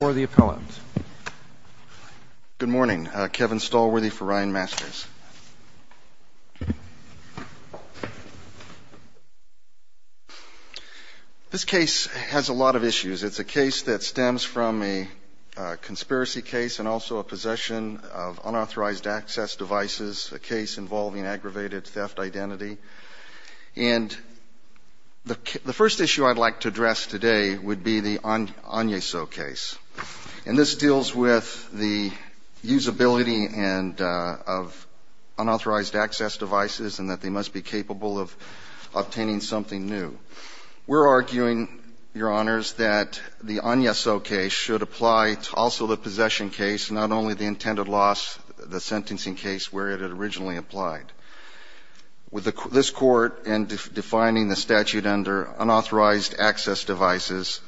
This case has a lot of issues. It's a case that stems from a conspiracy case and also a possession of unauthorized access devices, a case involving aggravated theft identity, and the first issue I'd like to address today would be the Agneso case. And this deals with the usability of unauthorized access devices and that they must be capable of obtaining something new. We're arguing, Your Honors, that the Agneso case should apply to also the possession case, not only the intended loss, the sentencing case where it had originally applied. With this Court, in defining the statute under unauthorized access devices,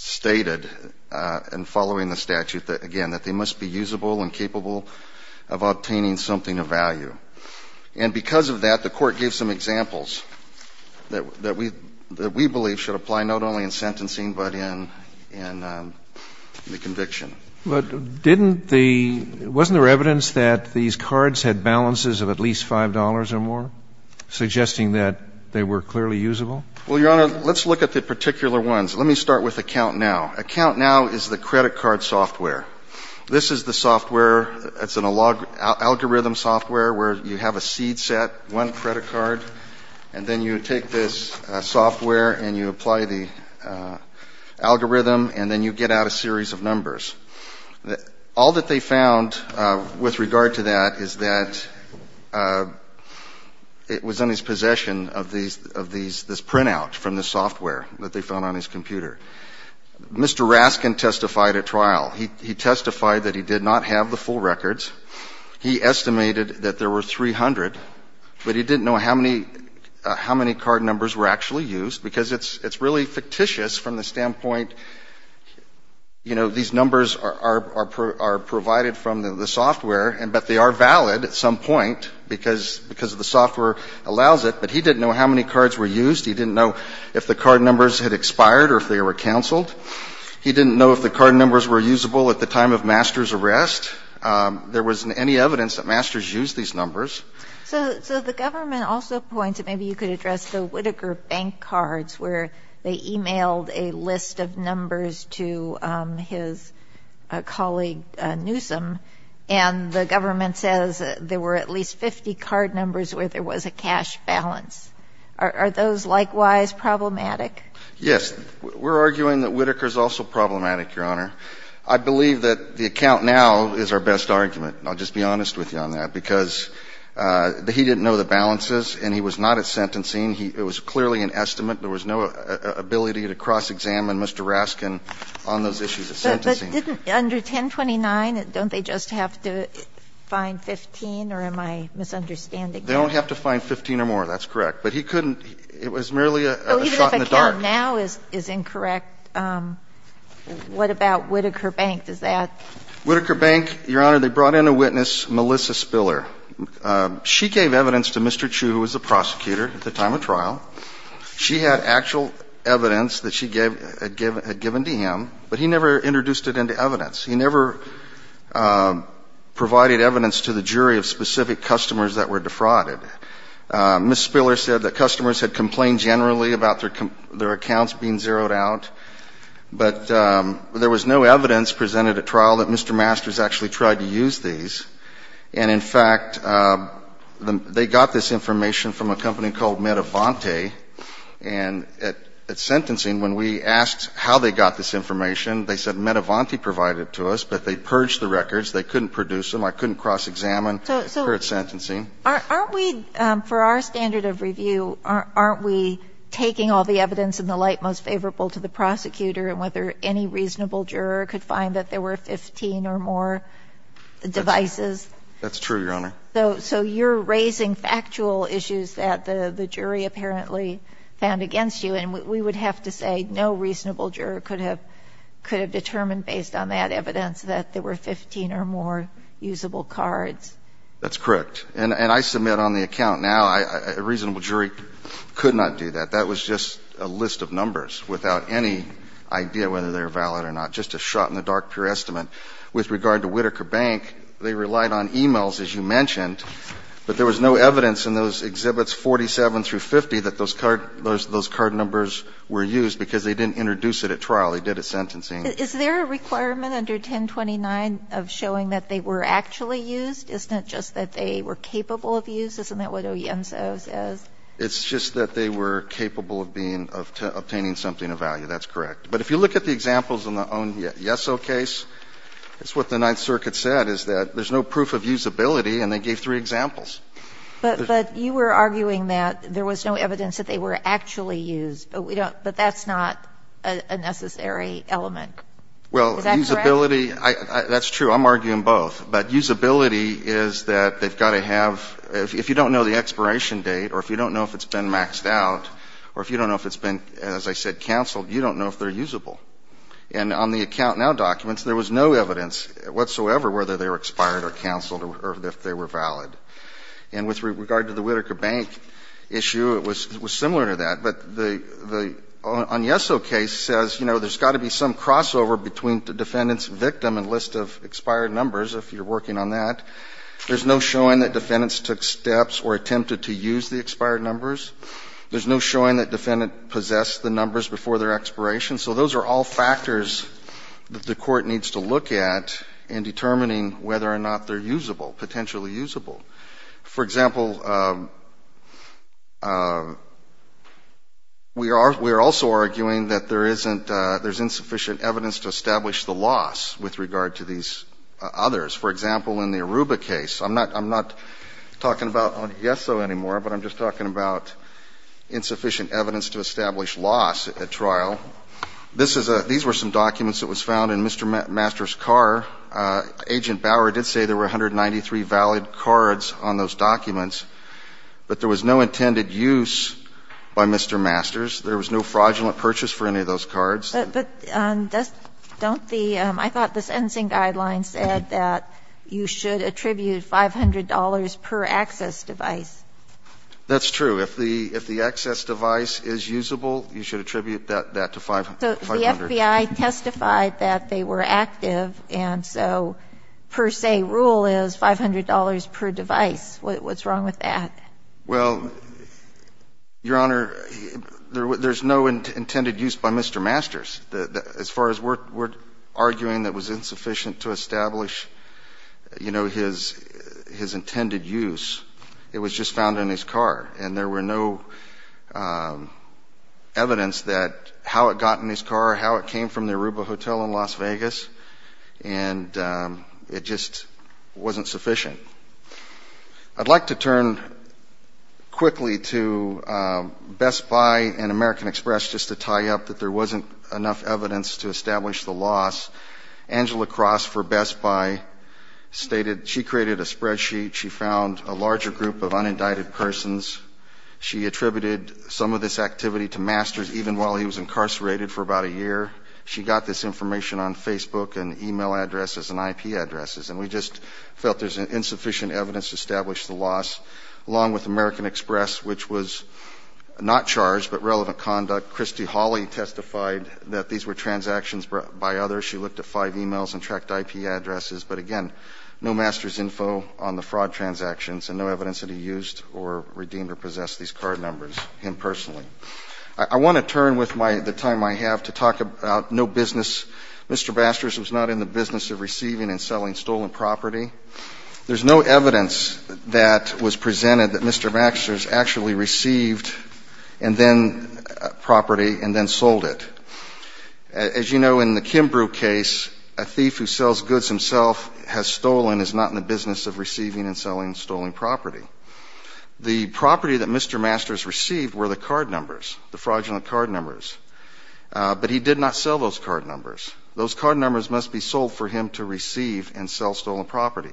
stated in following the statute, again, that they must be usable and capable of obtaining something of value. And because of that, the Court gave some examples that we believe should apply not only in sentencing but in the conviction. But didn't the — wasn't there evidence that these cards had balances of at least $5 or more, suggesting that they were clearly usable? Well, Your Honor, let's look at the particular ones. Let me start with AccountNow. AccountNow is the credit card software. This is the software. It's an algorithm software where you have a seed set, one credit card, and then you take this software and you apply the algorithm and then you get out a series of numbers. All that they found with regard to that is that it was in his possession of these — of this printout from the software that they found on his computer. Mr. Raskin testified at trial. He testified that he did not have the full records. He estimated that there were 300, but he didn't know how many — how many card numbers were actually used because it's really fictitious from the standpoint, you know, these numbers are provided from the software, but they are valid at some point because of the software allows it. But he didn't know how many cards were used. He didn't know if the card numbers had expired or if they were canceled. He didn't know if the card numbers were usable at the time of Master's arrest. There wasn't any evidence that Master's used these numbers. So the government also points that maybe you could address the Whitaker Bank cards where they emailed a list of numbers to his colleague Newsom, and the government says there were at least 50 card numbers where there was a cash balance. Are those likewise problematic? Yes. We're arguing that Whitaker is also problematic, Your Honor. I believe that the account now is our best argument. I'll just be honest with you on that because he didn't know the balances and he was not at sentencing. It was clearly an estimate. There was no ability to cross-examine Mr. Raskin on those issues at sentencing. But didn't under 1029, don't they just have to find 15 or am I misunderstanding you? They don't have to find 15 or more. That's correct. But he couldn't. It was merely a shot in the dark. Even if account now is incorrect, what about Whitaker Bank? Does that? Whitaker Bank, Your Honor, they brought in a witness, Melissa Spiller. She gave evidence to Mr. Chu, who was the prosecutor at the time of trial. She had actual evidence that she had given to him, but he never introduced it into evidence. He never provided evidence to the jury of specific customers that were defrauded. Ms. Spiller said that customers had complained generally about their accounts being zeroed out, but there was no evidence presented at trial that Mr. Masters actually tried to use these. And in fact, they got this information from a company called Metavante. And at sentencing, when we asked how they got this information, they said Metavante provided it to us, but they purged the records. They couldn't produce them. I couldn't cross-examine her at sentencing. So aren't we, for our standard of review, aren't we taking all the evidence in the light most favorable to the prosecutor and whether any reasonable juror could find that there were 15 or more devices? That's true, Your Honor. So you're raising factual issues that the jury apparently found against you, and we would have to say no reasonable juror could have determined, based on that evidence, that there were 15 or more usable cards. That's correct. And I submit on the account now, a reasonable jury could not do that. That was just a list of numbers without any idea whether they were valid or not, just a shot in the dark, pure estimate. With regard to Whitaker Bank, they relied on e-mails, as you mentioned, but there was no evidence in those exhibits 47 through 50 that those card numbers were used because they didn't introduce it at trial. They did at sentencing. Is there a requirement under 1029 of showing that they were actually used? Isn't it just that they were capable of use? Isn't that what Oienzo says? It's just that they were capable of being of obtaining something of value. That's correct. But if you look at the examples in the Oienzo case, it's what the Ninth Circuit said, is that there's no proof of usability, and they gave three examples. But you were arguing that there was no evidence that they were actually used, but we don't – but that's not a necessary element. Is that correct? Well, usability, that's true. I'm arguing both. But usability is that they've got to have – if you don't know the expiration date or if you don't know if it's been maxed out or if you don't know if it's been, as I said, canceled, you don't know if they're usable. And on the Account Now documents, there was no evidence whatsoever whether they were expired or canceled or if they were valid. And with regard to the Whitaker Bank issue, it was similar to that. But the Oienzo case says, you know, there's got to be some crossover between the defendant's victim and list of expired numbers, if you're working on that. There's no showing that defendants took steps or attempted to use the expired numbers. There's no showing that defendant possessed the numbers before their expiration. So those are all factors that the Court needs to look at in determining whether or not they're usable, potentially usable. For example, we are also arguing that there isn't – there's insufficient evidence to establish the loss with regard to these others. For example, in the Aruba case. I'm not – I'm not talking about Yeso anymore, but I'm just talking about insufficient evidence to establish loss at trial. This is a – these were some documents that was found in Mr. Masters' car. Agent Bower did say there were 193 valid cards on those documents, but there was no intended use by Mr. Masters. There was no fraudulent purchase for any of those cards. But don't the – I thought the sentencing guidelines said that you should attribute $500 per access device. That's true. If the access device is usable, you should attribute that to 500. So the FBI testified that they were active, and so per se rule is $500 per device. What's wrong with that? Well, Your Honor, there's no intended use by Mr. Masters. As far as we're arguing that was insufficient to establish, you know, his intended use, it was just found in his car, and there were no evidence that how it got in his car, how it came from the Aruba Hotel in Las Vegas, and it just wasn't sufficient. I'd like to turn quickly to Best Buy and American Express just to tie up that there wasn't enough evidence to establish the loss. Angela Cross for Best Buy stated she created a spreadsheet. She found a larger group of unindicted persons. She attributed some of this activity to Masters even while he was incarcerated for about a year. She got this information on Facebook and e-mail addresses and IP addresses, and we established the loss. Along with American Express, which was not charged but relevant conduct, Christy Hawley testified that these were transactions by others. She looked at five e-mails and tracked IP addresses, but again, no Masters' info on the fraud transactions and no evidence that he used or redeemed or possessed these card numbers, him personally. I want to turn with the time I have to talk about no business. Mr. Masters was not in the business of receiving and selling stolen property. There's no evidence that was presented that Mr. Masters actually received property and then sold it. As you know, in the Kimbrough case, a thief who sells goods himself has stolen, is not in the business of receiving and selling stolen property. The property that Mr. Masters received were the card numbers, the fraudulent card numbers, but he did not sell those card numbers. Those card numbers must be sold for him to receive and sell stolen property.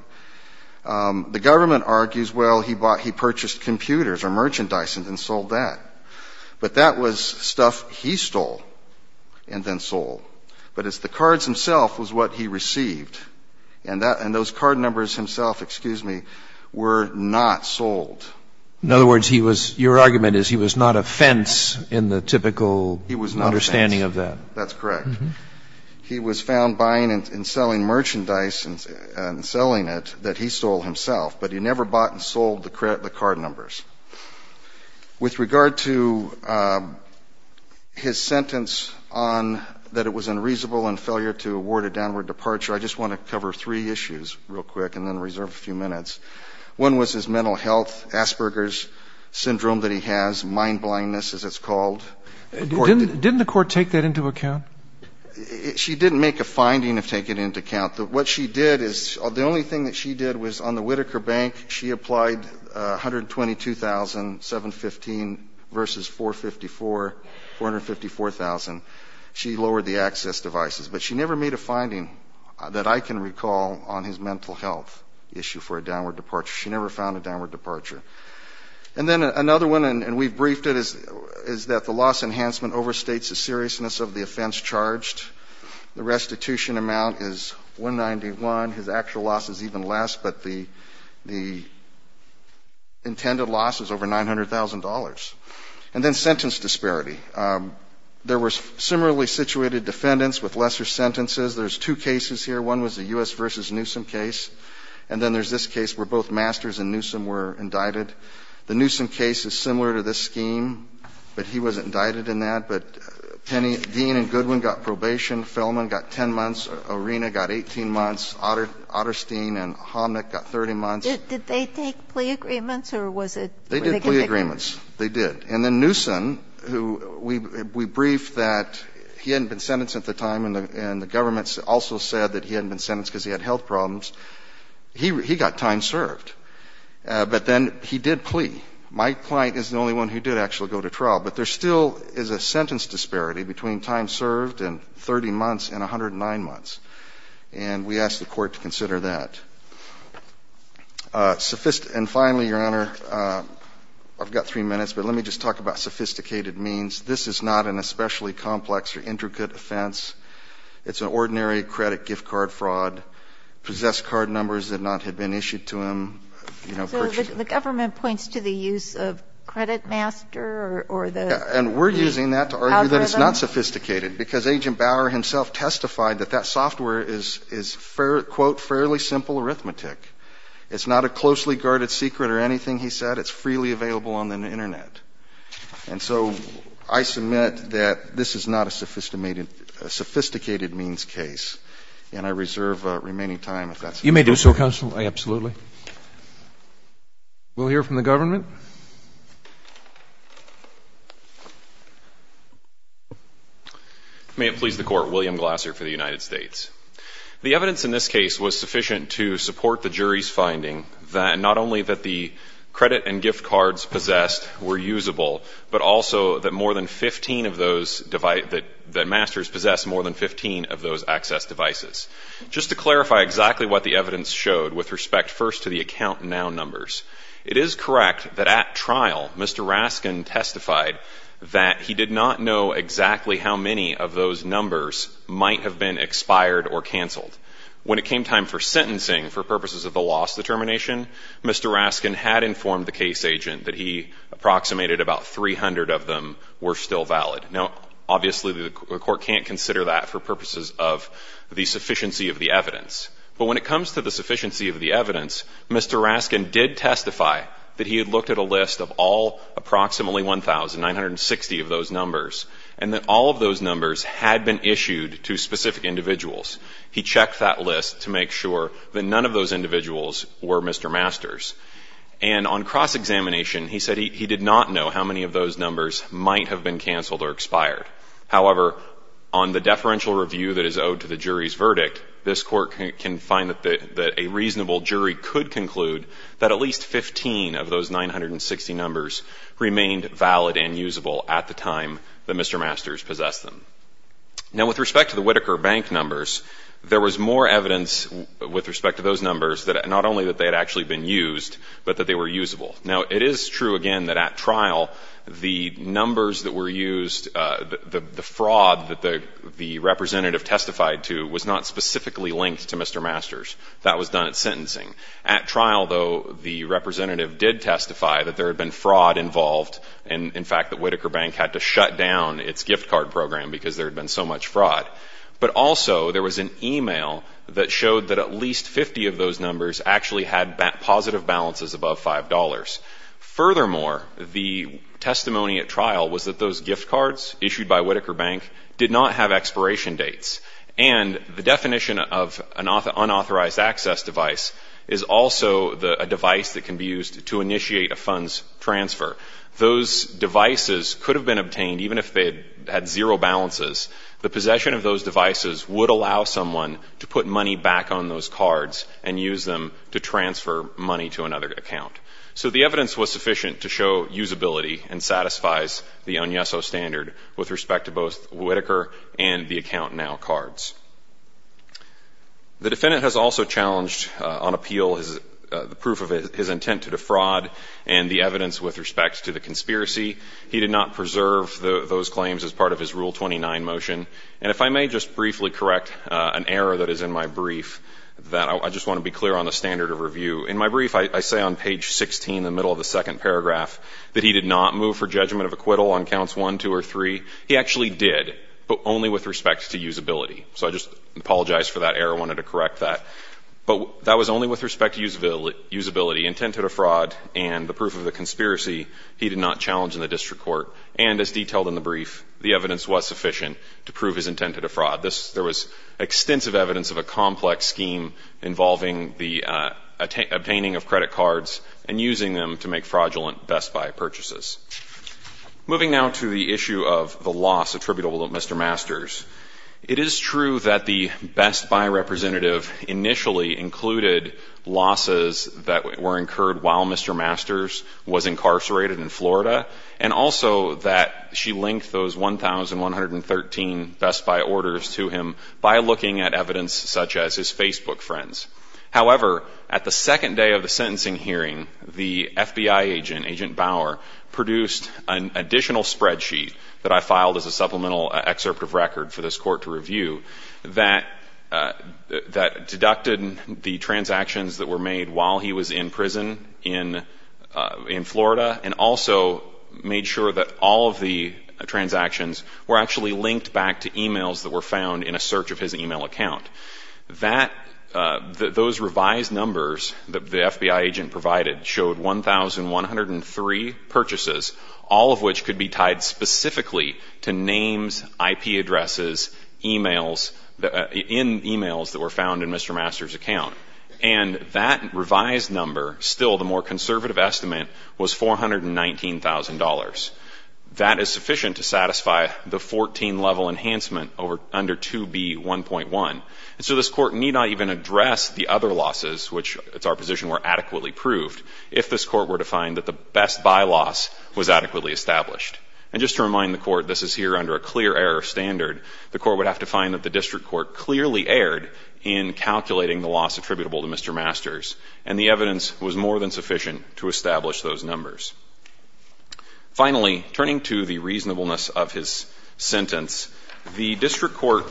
The government argues, well, he bought, he purchased computers or merchandise and then sold that. But that was stuff he stole and then sold. But it's the cards himself was what he received, and that, and those card numbers himself, excuse me, were not sold. In other words, he was, your argument is he was not a fence in the typical understanding of that. He was not a fence. That's correct. He was found buying and selling merchandise and selling it that he stole himself, but he never bought and sold the card numbers. With regard to his sentence on that it was unreasonable and failure to award a downward departure, I just want to cover three issues real quick and then reserve a few minutes. One was his mental health, Asperger's syndrome that he has, mind blindness, as it's called. Didn't the court take that into account? She didn't make a finding of taking it into account. What she did is, the only thing that she did was on the Whitaker Bank she applied $122,715 versus $454,000. She lowered the access devices. But she never made a finding that I can recall on his mental health issue for a downward departure. She never found a downward departure. And then another one, and we've briefed it, is that the loss enhancement overstates the seriousness of the offense charged. The restitution amount is $191,000. His actual loss is even less, but the intended loss is over $900,000. And then sentence disparity. There were similarly situated defendants with lesser sentences. There's two cases here. One was a U.S. versus Newsom case, and then there's this case where both Masters and Newsom were indicted. The Newsom case is similar to this scheme, but he was indicted in that. But Dean and Goodwin got probation. Fellman got 10 months. Arena got 18 months. Otterstein and Homnick got 30 months. Did they take plea agreements, or was it? They did plea agreements. They did. And then Newsom, who we briefed that he hadn't been sentenced at the time, and the government also said that he hadn't been sentenced because he had health problems. He got time served. But then he did plea. My client is the only one who did actually go to trial. But there still is a sentence disparity between time served and 30 months and 109 months, and we asked the Court to consider that. And finally, Your Honor, I've got three minutes, but let me just talk about sophisticated means. This is not an especially complex or intricate offense. It's an ordinary credit gift card fraud. Possessed card numbers that not had been issued to him, you know, purchased it. So the government points to the use of Credit Master or the algorithm? And we're using that to argue that it's not sophisticated, because Agent Bauer himself testified that that software is, quote, fairly simple arithmetic. It's not a closely guarded secret or anything, he said. It's freely available on the Internet. And so I submit that this is not a sophisticated means case, and I reserve remaining time if that's okay. You may do so, Counsel. Absolutely. We'll hear from the government. May it please the Court. William Glasser for the United States. The evidence in this case was sufficient to support the jury's finding that not only that the credit and gift cards possessed were usable, but also that more than 15 of those devices, that Masters possessed more than 15 of those access devices. Just to clarify exactly what the evidence showed with respect first to the account now numbers, it is correct that at trial, Mr. Raskin testified that he did not know exactly how many of those numbers might have been expired or canceled. When it came time for sentencing for purposes of the loss determination, Mr. Raskin had informed the case agent that he approximated about 300 of them were still valid. Now, obviously, the Court can't consider that for purposes of the sufficiency of the evidence. But when it comes to the sufficiency of the evidence, Mr. Raskin did testify that he had looked at a list of all approximately 1,960 of those numbers, and that all of those numbers had been issued to specific individuals. He checked that list to make sure that none of those individuals were Mr. Masters. And on cross-examination, he said he did not know how many of those numbers might have been canceled or expired. However, on the deferential review that is owed to the jury's verdict, this Court can find that a reasonable jury could conclude that at least 15 of those 960 numbers remained valid and usable at the time that Mr. Masters possessed them. Now, with respect to the Whitaker Bank numbers, there was more evidence with respect to those numbers that not only that they had actually been used, but that they were usable. Now, it is true, again, that at trial, the numbers that were used, the fraud that the representative testified to was not specifically linked to Mr. Masters. That was done at sentencing. At trial, though, the representative did testify that there had been fraud involved and, in fact, that Whitaker Bank had to shut down its gift card program because there had been so much fraud. But also, there was an e-mail that showed that at least 50 of those numbers actually had positive balances above $5. Furthermore, the testimony at trial was that those gift cards issued by Whitaker Bank did not have expiration dates. And the definition of an unauthorized access device is also a device that can be used to initiate a funds transfer. Those devices could have been obtained even if they had zero balances. The possession of those devices would allow someone to put money back on those to transfer money to another account. So the evidence was sufficient to show usability and satisfies the Onyesso standard with respect to both Whitaker and the Account Now cards. The defendant has also challenged on appeal the proof of his intent to defraud and the evidence with respect to the conspiracy. He did not preserve those claims as part of his Rule 29 motion. And if I may just briefly correct an error that is in my brief that I just want to be clear on the standard of review. In my brief, I say on page 16 in the middle of the second paragraph that he did not move for judgment of acquittal on counts 1, 2, or 3. He actually did, but only with respect to usability. So I just apologize for that error. I wanted to correct that. But that was only with respect to usability. Intent to defraud and the proof of the conspiracy he did not challenge in the district court. And as detailed in the brief, the evidence was sufficient to prove his intent to defraud. There was extensive evidence of a complex scheme involving the obtaining of credit cards and using them to make fraudulent Best Buy purchases. Moving now to the issue of the loss attributable to Mr. Masters. It is true that the Best Buy representative initially included losses that were incurred while Mr. Masters was incarcerated in Florida and also that she linked those 1,113 Best Buy orders to him by looking at evidence such as his Facebook friends. However, at the second day of the sentencing hearing, the FBI agent, Agent Bauer, produced an additional spreadsheet that I filed as a supplemental excerpt of record for this court to review that deducted the transactions that were made while he was in prison in Florida and also made sure that all of the transactions were actually linked back to e-mails that were found in a search of his e-mail account. Those revised numbers that the FBI agent provided showed 1,103 purchases, all of which could be tied specifically to names, IP addresses, e-mails that were found in Mr. Masters' account. And that revised number, still the more conservative estimate, was $419,000. That is sufficient to satisfy the 14-level enhancement under 2B1.1. And so this court need not even address the other losses, which it's our position were adequately proved, if this court were to find that the Best Buy loss was adequately established. And just to remind the court, this is here under a clear error standard. The court would have to find that the district court clearly erred in calculating the loss attributable to Mr. Masters, and the evidence was more than sufficient to establish those numbers. Finally, turning to the reasonableness of his sentence, the district court,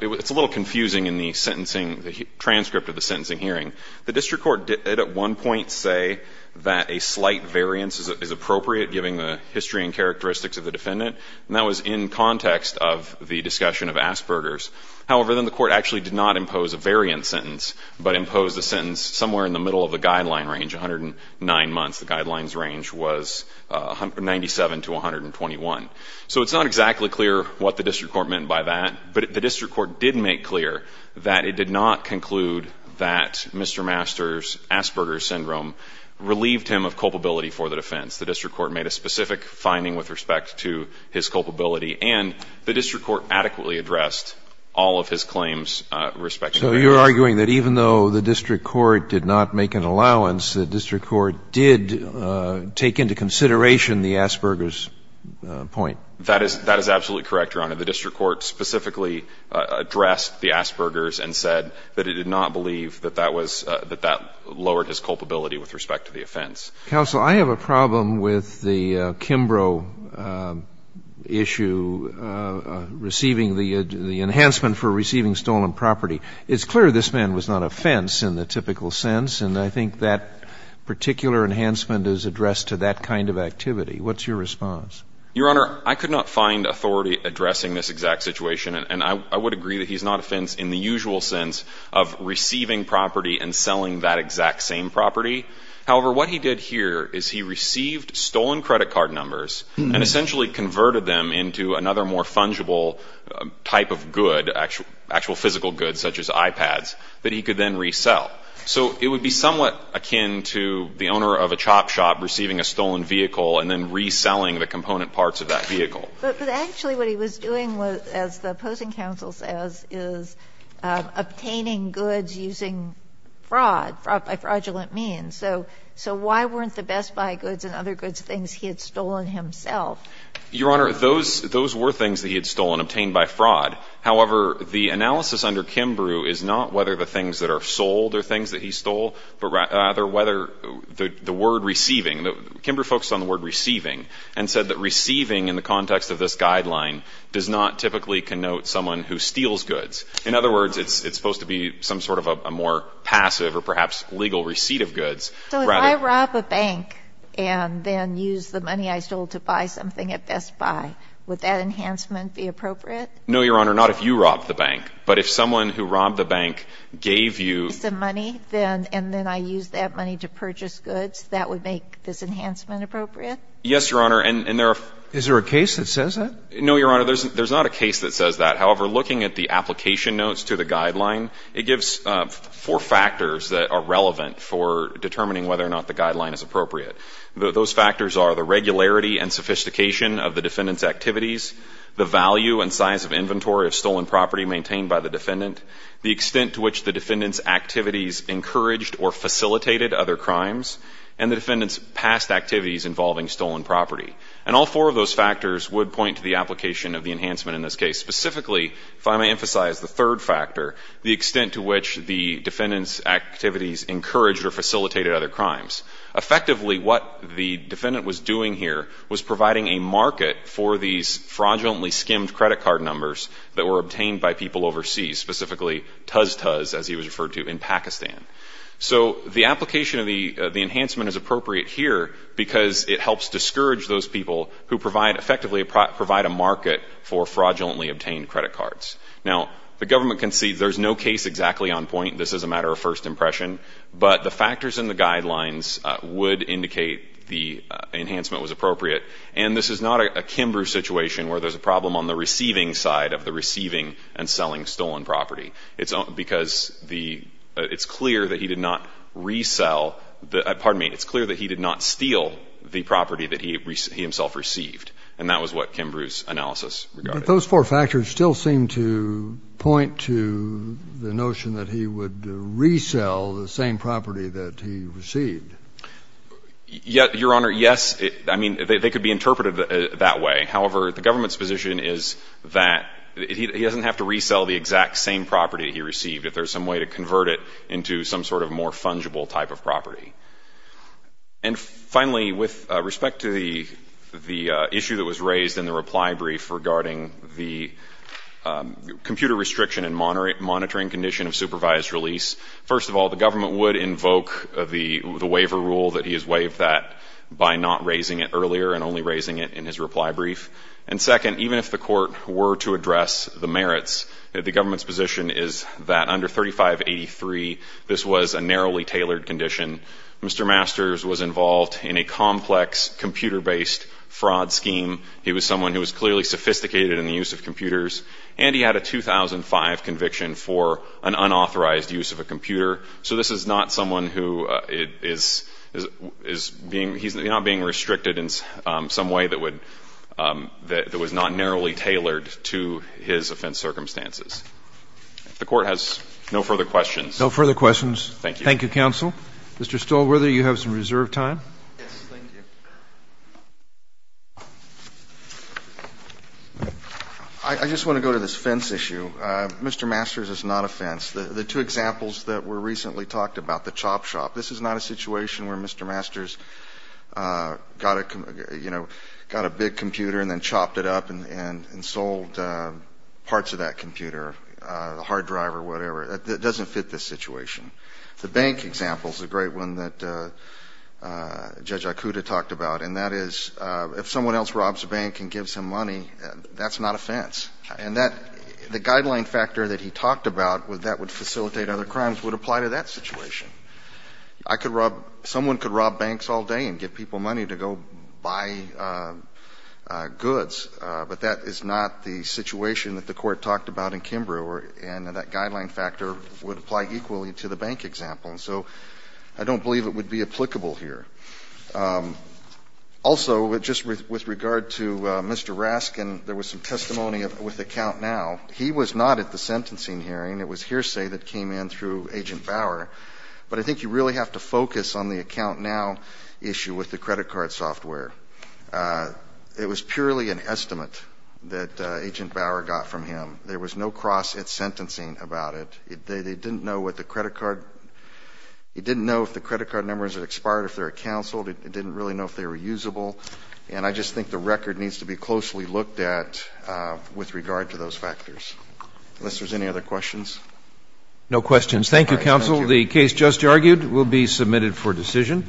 it's a little confusing in the sentencing, the transcript of the sentencing hearing. The district court did at one point say that a slight variance is appropriate given the history and characteristics of the defendant, and that was in context of the discussion of Asperger's. However, then the court actually did not impose a variant sentence, but imposed a sentence somewhere in the middle of the guideline range, 109 months, the guideline range was 97 to 121. So it's not exactly clear what the district court meant by that, but the district court did make clear that it did not conclude that Mr. Masters' Asperger's syndrome relieved him of culpability for the defense. The district court made a specific finding with respect to his culpability, and the district court adequately addressed all of his claims respecting variance. So you're arguing that even though the district court did not make an allowance, the district court did take into consideration the Asperger's point. That is absolutely correct, Your Honor. The district court specifically addressed the Asperger's and said that it did not believe that that was, that that lowered his culpability with respect to the offense. Counsel, I have a problem with the Kimbrough issue receiving the enhancement for receiving stolen property. It's clear this man was not a fence in the typical sense, and I think that particular enhancement is addressed to that kind of activity. What's your response? Your Honor, I could not find authority addressing this exact situation, and I would agree that he's not a fence in the usual sense of receiving property and selling that exact same property. However, what he did here is he received stolen credit card numbers and essentially converted them into another more fungible type of good, actual physical goods such as iPads, that he could then resell. So it would be somewhat akin to the owner of a chop shop receiving a stolen vehicle and then reselling the component parts of that vehicle. But actually what he was doing was, as the opposing counsel says, is obtaining goods using fraud, fraud by fraudulent means. So why weren't the Best Buy goods and other goods things he had stolen himself? Your Honor, those were things that he had stolen, obtained by fraud. However, the analysis under Kimbrough is not whether the things that are sold are things that he stole, but rather whether the word receiving. Kimbrough focused on the word receiving and said that receiving in the context of this guideline does not typically connote someone who steals goods. In other words, it's supposed to be some sort of a more passive or perhaps legal receipt of goods. So if I rob a bank and then use the money I stole to buy something at Best Buy, would that enhancement be appropriate? No, Your Honor. Not if you robbed the bank. But if someone who robbed the bank gave you some money and then I used that money to purchase goods, that would make this enhancement appropriate? Yes, Your Honor. And there are ---- Is there a case that says that? No, Your Honor. There's not a case that says that. However, looking at the application notes to the guideline, it gives four factors that are relevant for determining whether or not the guideline is appropriate. Those factors are the regularity and sophistication of the defendant's activities, the value and size of inventory of stolen property maintained by the defendant, the extent to which the defendant's activities encouraged or facilitated other crimes, and the defendant's past activities involving stolen property. And all four of those factors would point to the application of the enhancement in this case. Specifically, if I may emphasize the third factor, the extent to which the defendant's activities encouraged or facilitated other crimes. Effectively, what the defendant was doing here was providing a market for these fraudulently skimmed credit card numbers that were obtained by people overseas, specifically TuzTuz, as he was referred to, in Pakistan. So the application of the enhancement is appropriate here because it helps discourage those people who provide effectively a market for fraudulently obtained credit cards. Now, the government concedes there's no case exactly on point. This is a matter of first impression. But the factors in the guidelines would indicate the enhancement was appropriate. And this is not a Kimbrough situation where there's a problem on the receiving side of the receiving and selling stolen property. It's because the — it's clear that he did not resell the — pardon me. It's clear that he did not steal the property that he himself received. And that was what Kimbrough's analysis regarded. But those four factors still seem to point to the notion that he would resell the same property that he received. Your Honor, yes. I mean, they could be interpreted that way. However, the government's position is that he doesn't have to resell the exact same property he received if there's some way to convert it into some sort of more fungible type of property. And finally, with respect to the issue that was raised in the reply brief regarding the computer restriction and monitoring condition of supervised release, first of all, the government would invoke the waiver rule that he has waived that by not raising it earlier and only raising it in his reply brief. And second, even if the court were to address the merits, the government's position is that under 3583, this was a narrowly tailored condition. Mr. Masters was involved in a complex computer-based fraud scheme. He was someone who was clearly sophisticated in the use of computers. And he had a 2005 conviction for an unauthorized use of a computer. So this is not someone who is being ‑‑ he's not being restricted in some way that would ‑‑ that was not narrowly tailored to his offense circumstances. If the Court has no further questions. No further questions. Thank you. Thank you, counsel. Mr. Stolberger, you have some reserved time. Yes. Thank you. I just want to go to this fence issue. Mr. Masters is not a fence. The two examples that were recently talked about, the chop shop, this is not a situation where Mr. Masters got a, you know, got a big computer and then chopped it up and sold parts of that computer, a hard drive or whatever. It doesn't fit this situation. The bank example is a great one that Judge Akuta talked about. And that is if someone else robs a bank and gives him money, that's not a fence. And that ‑‑ the guideline factor that he talked about that would facilitate other crimes would apply to that situation. I could rob ‑‑ someone could rob banks all day and give people money to go buy goods, but that is not the situation that the Court talked about in Kimbrough. And that guideline factor would apply equally to the bank example. So I don't believe it would be applicable here. Also, just with regard to Mr. Raskin, there was some testimony with AccountNow. He was not at the sentencing hearing. It was hearsay that came in through Agent Bauer. But I think you really have to focus on the AccountNow issue with the credit card software. It was purely an estimate that Agent Bauer got from him. There was no cross at sentencing about it. They didn't know what the credit card ‑‑ he didn't know if the credit card numbers had expired if they were counseled. It didn't really know if they were usable. And I just think the record needs to be closely looked at with regard to those factors. Unless there's any other questions. No questions. Thank you, counsel. The case just argued will be submitted for decision.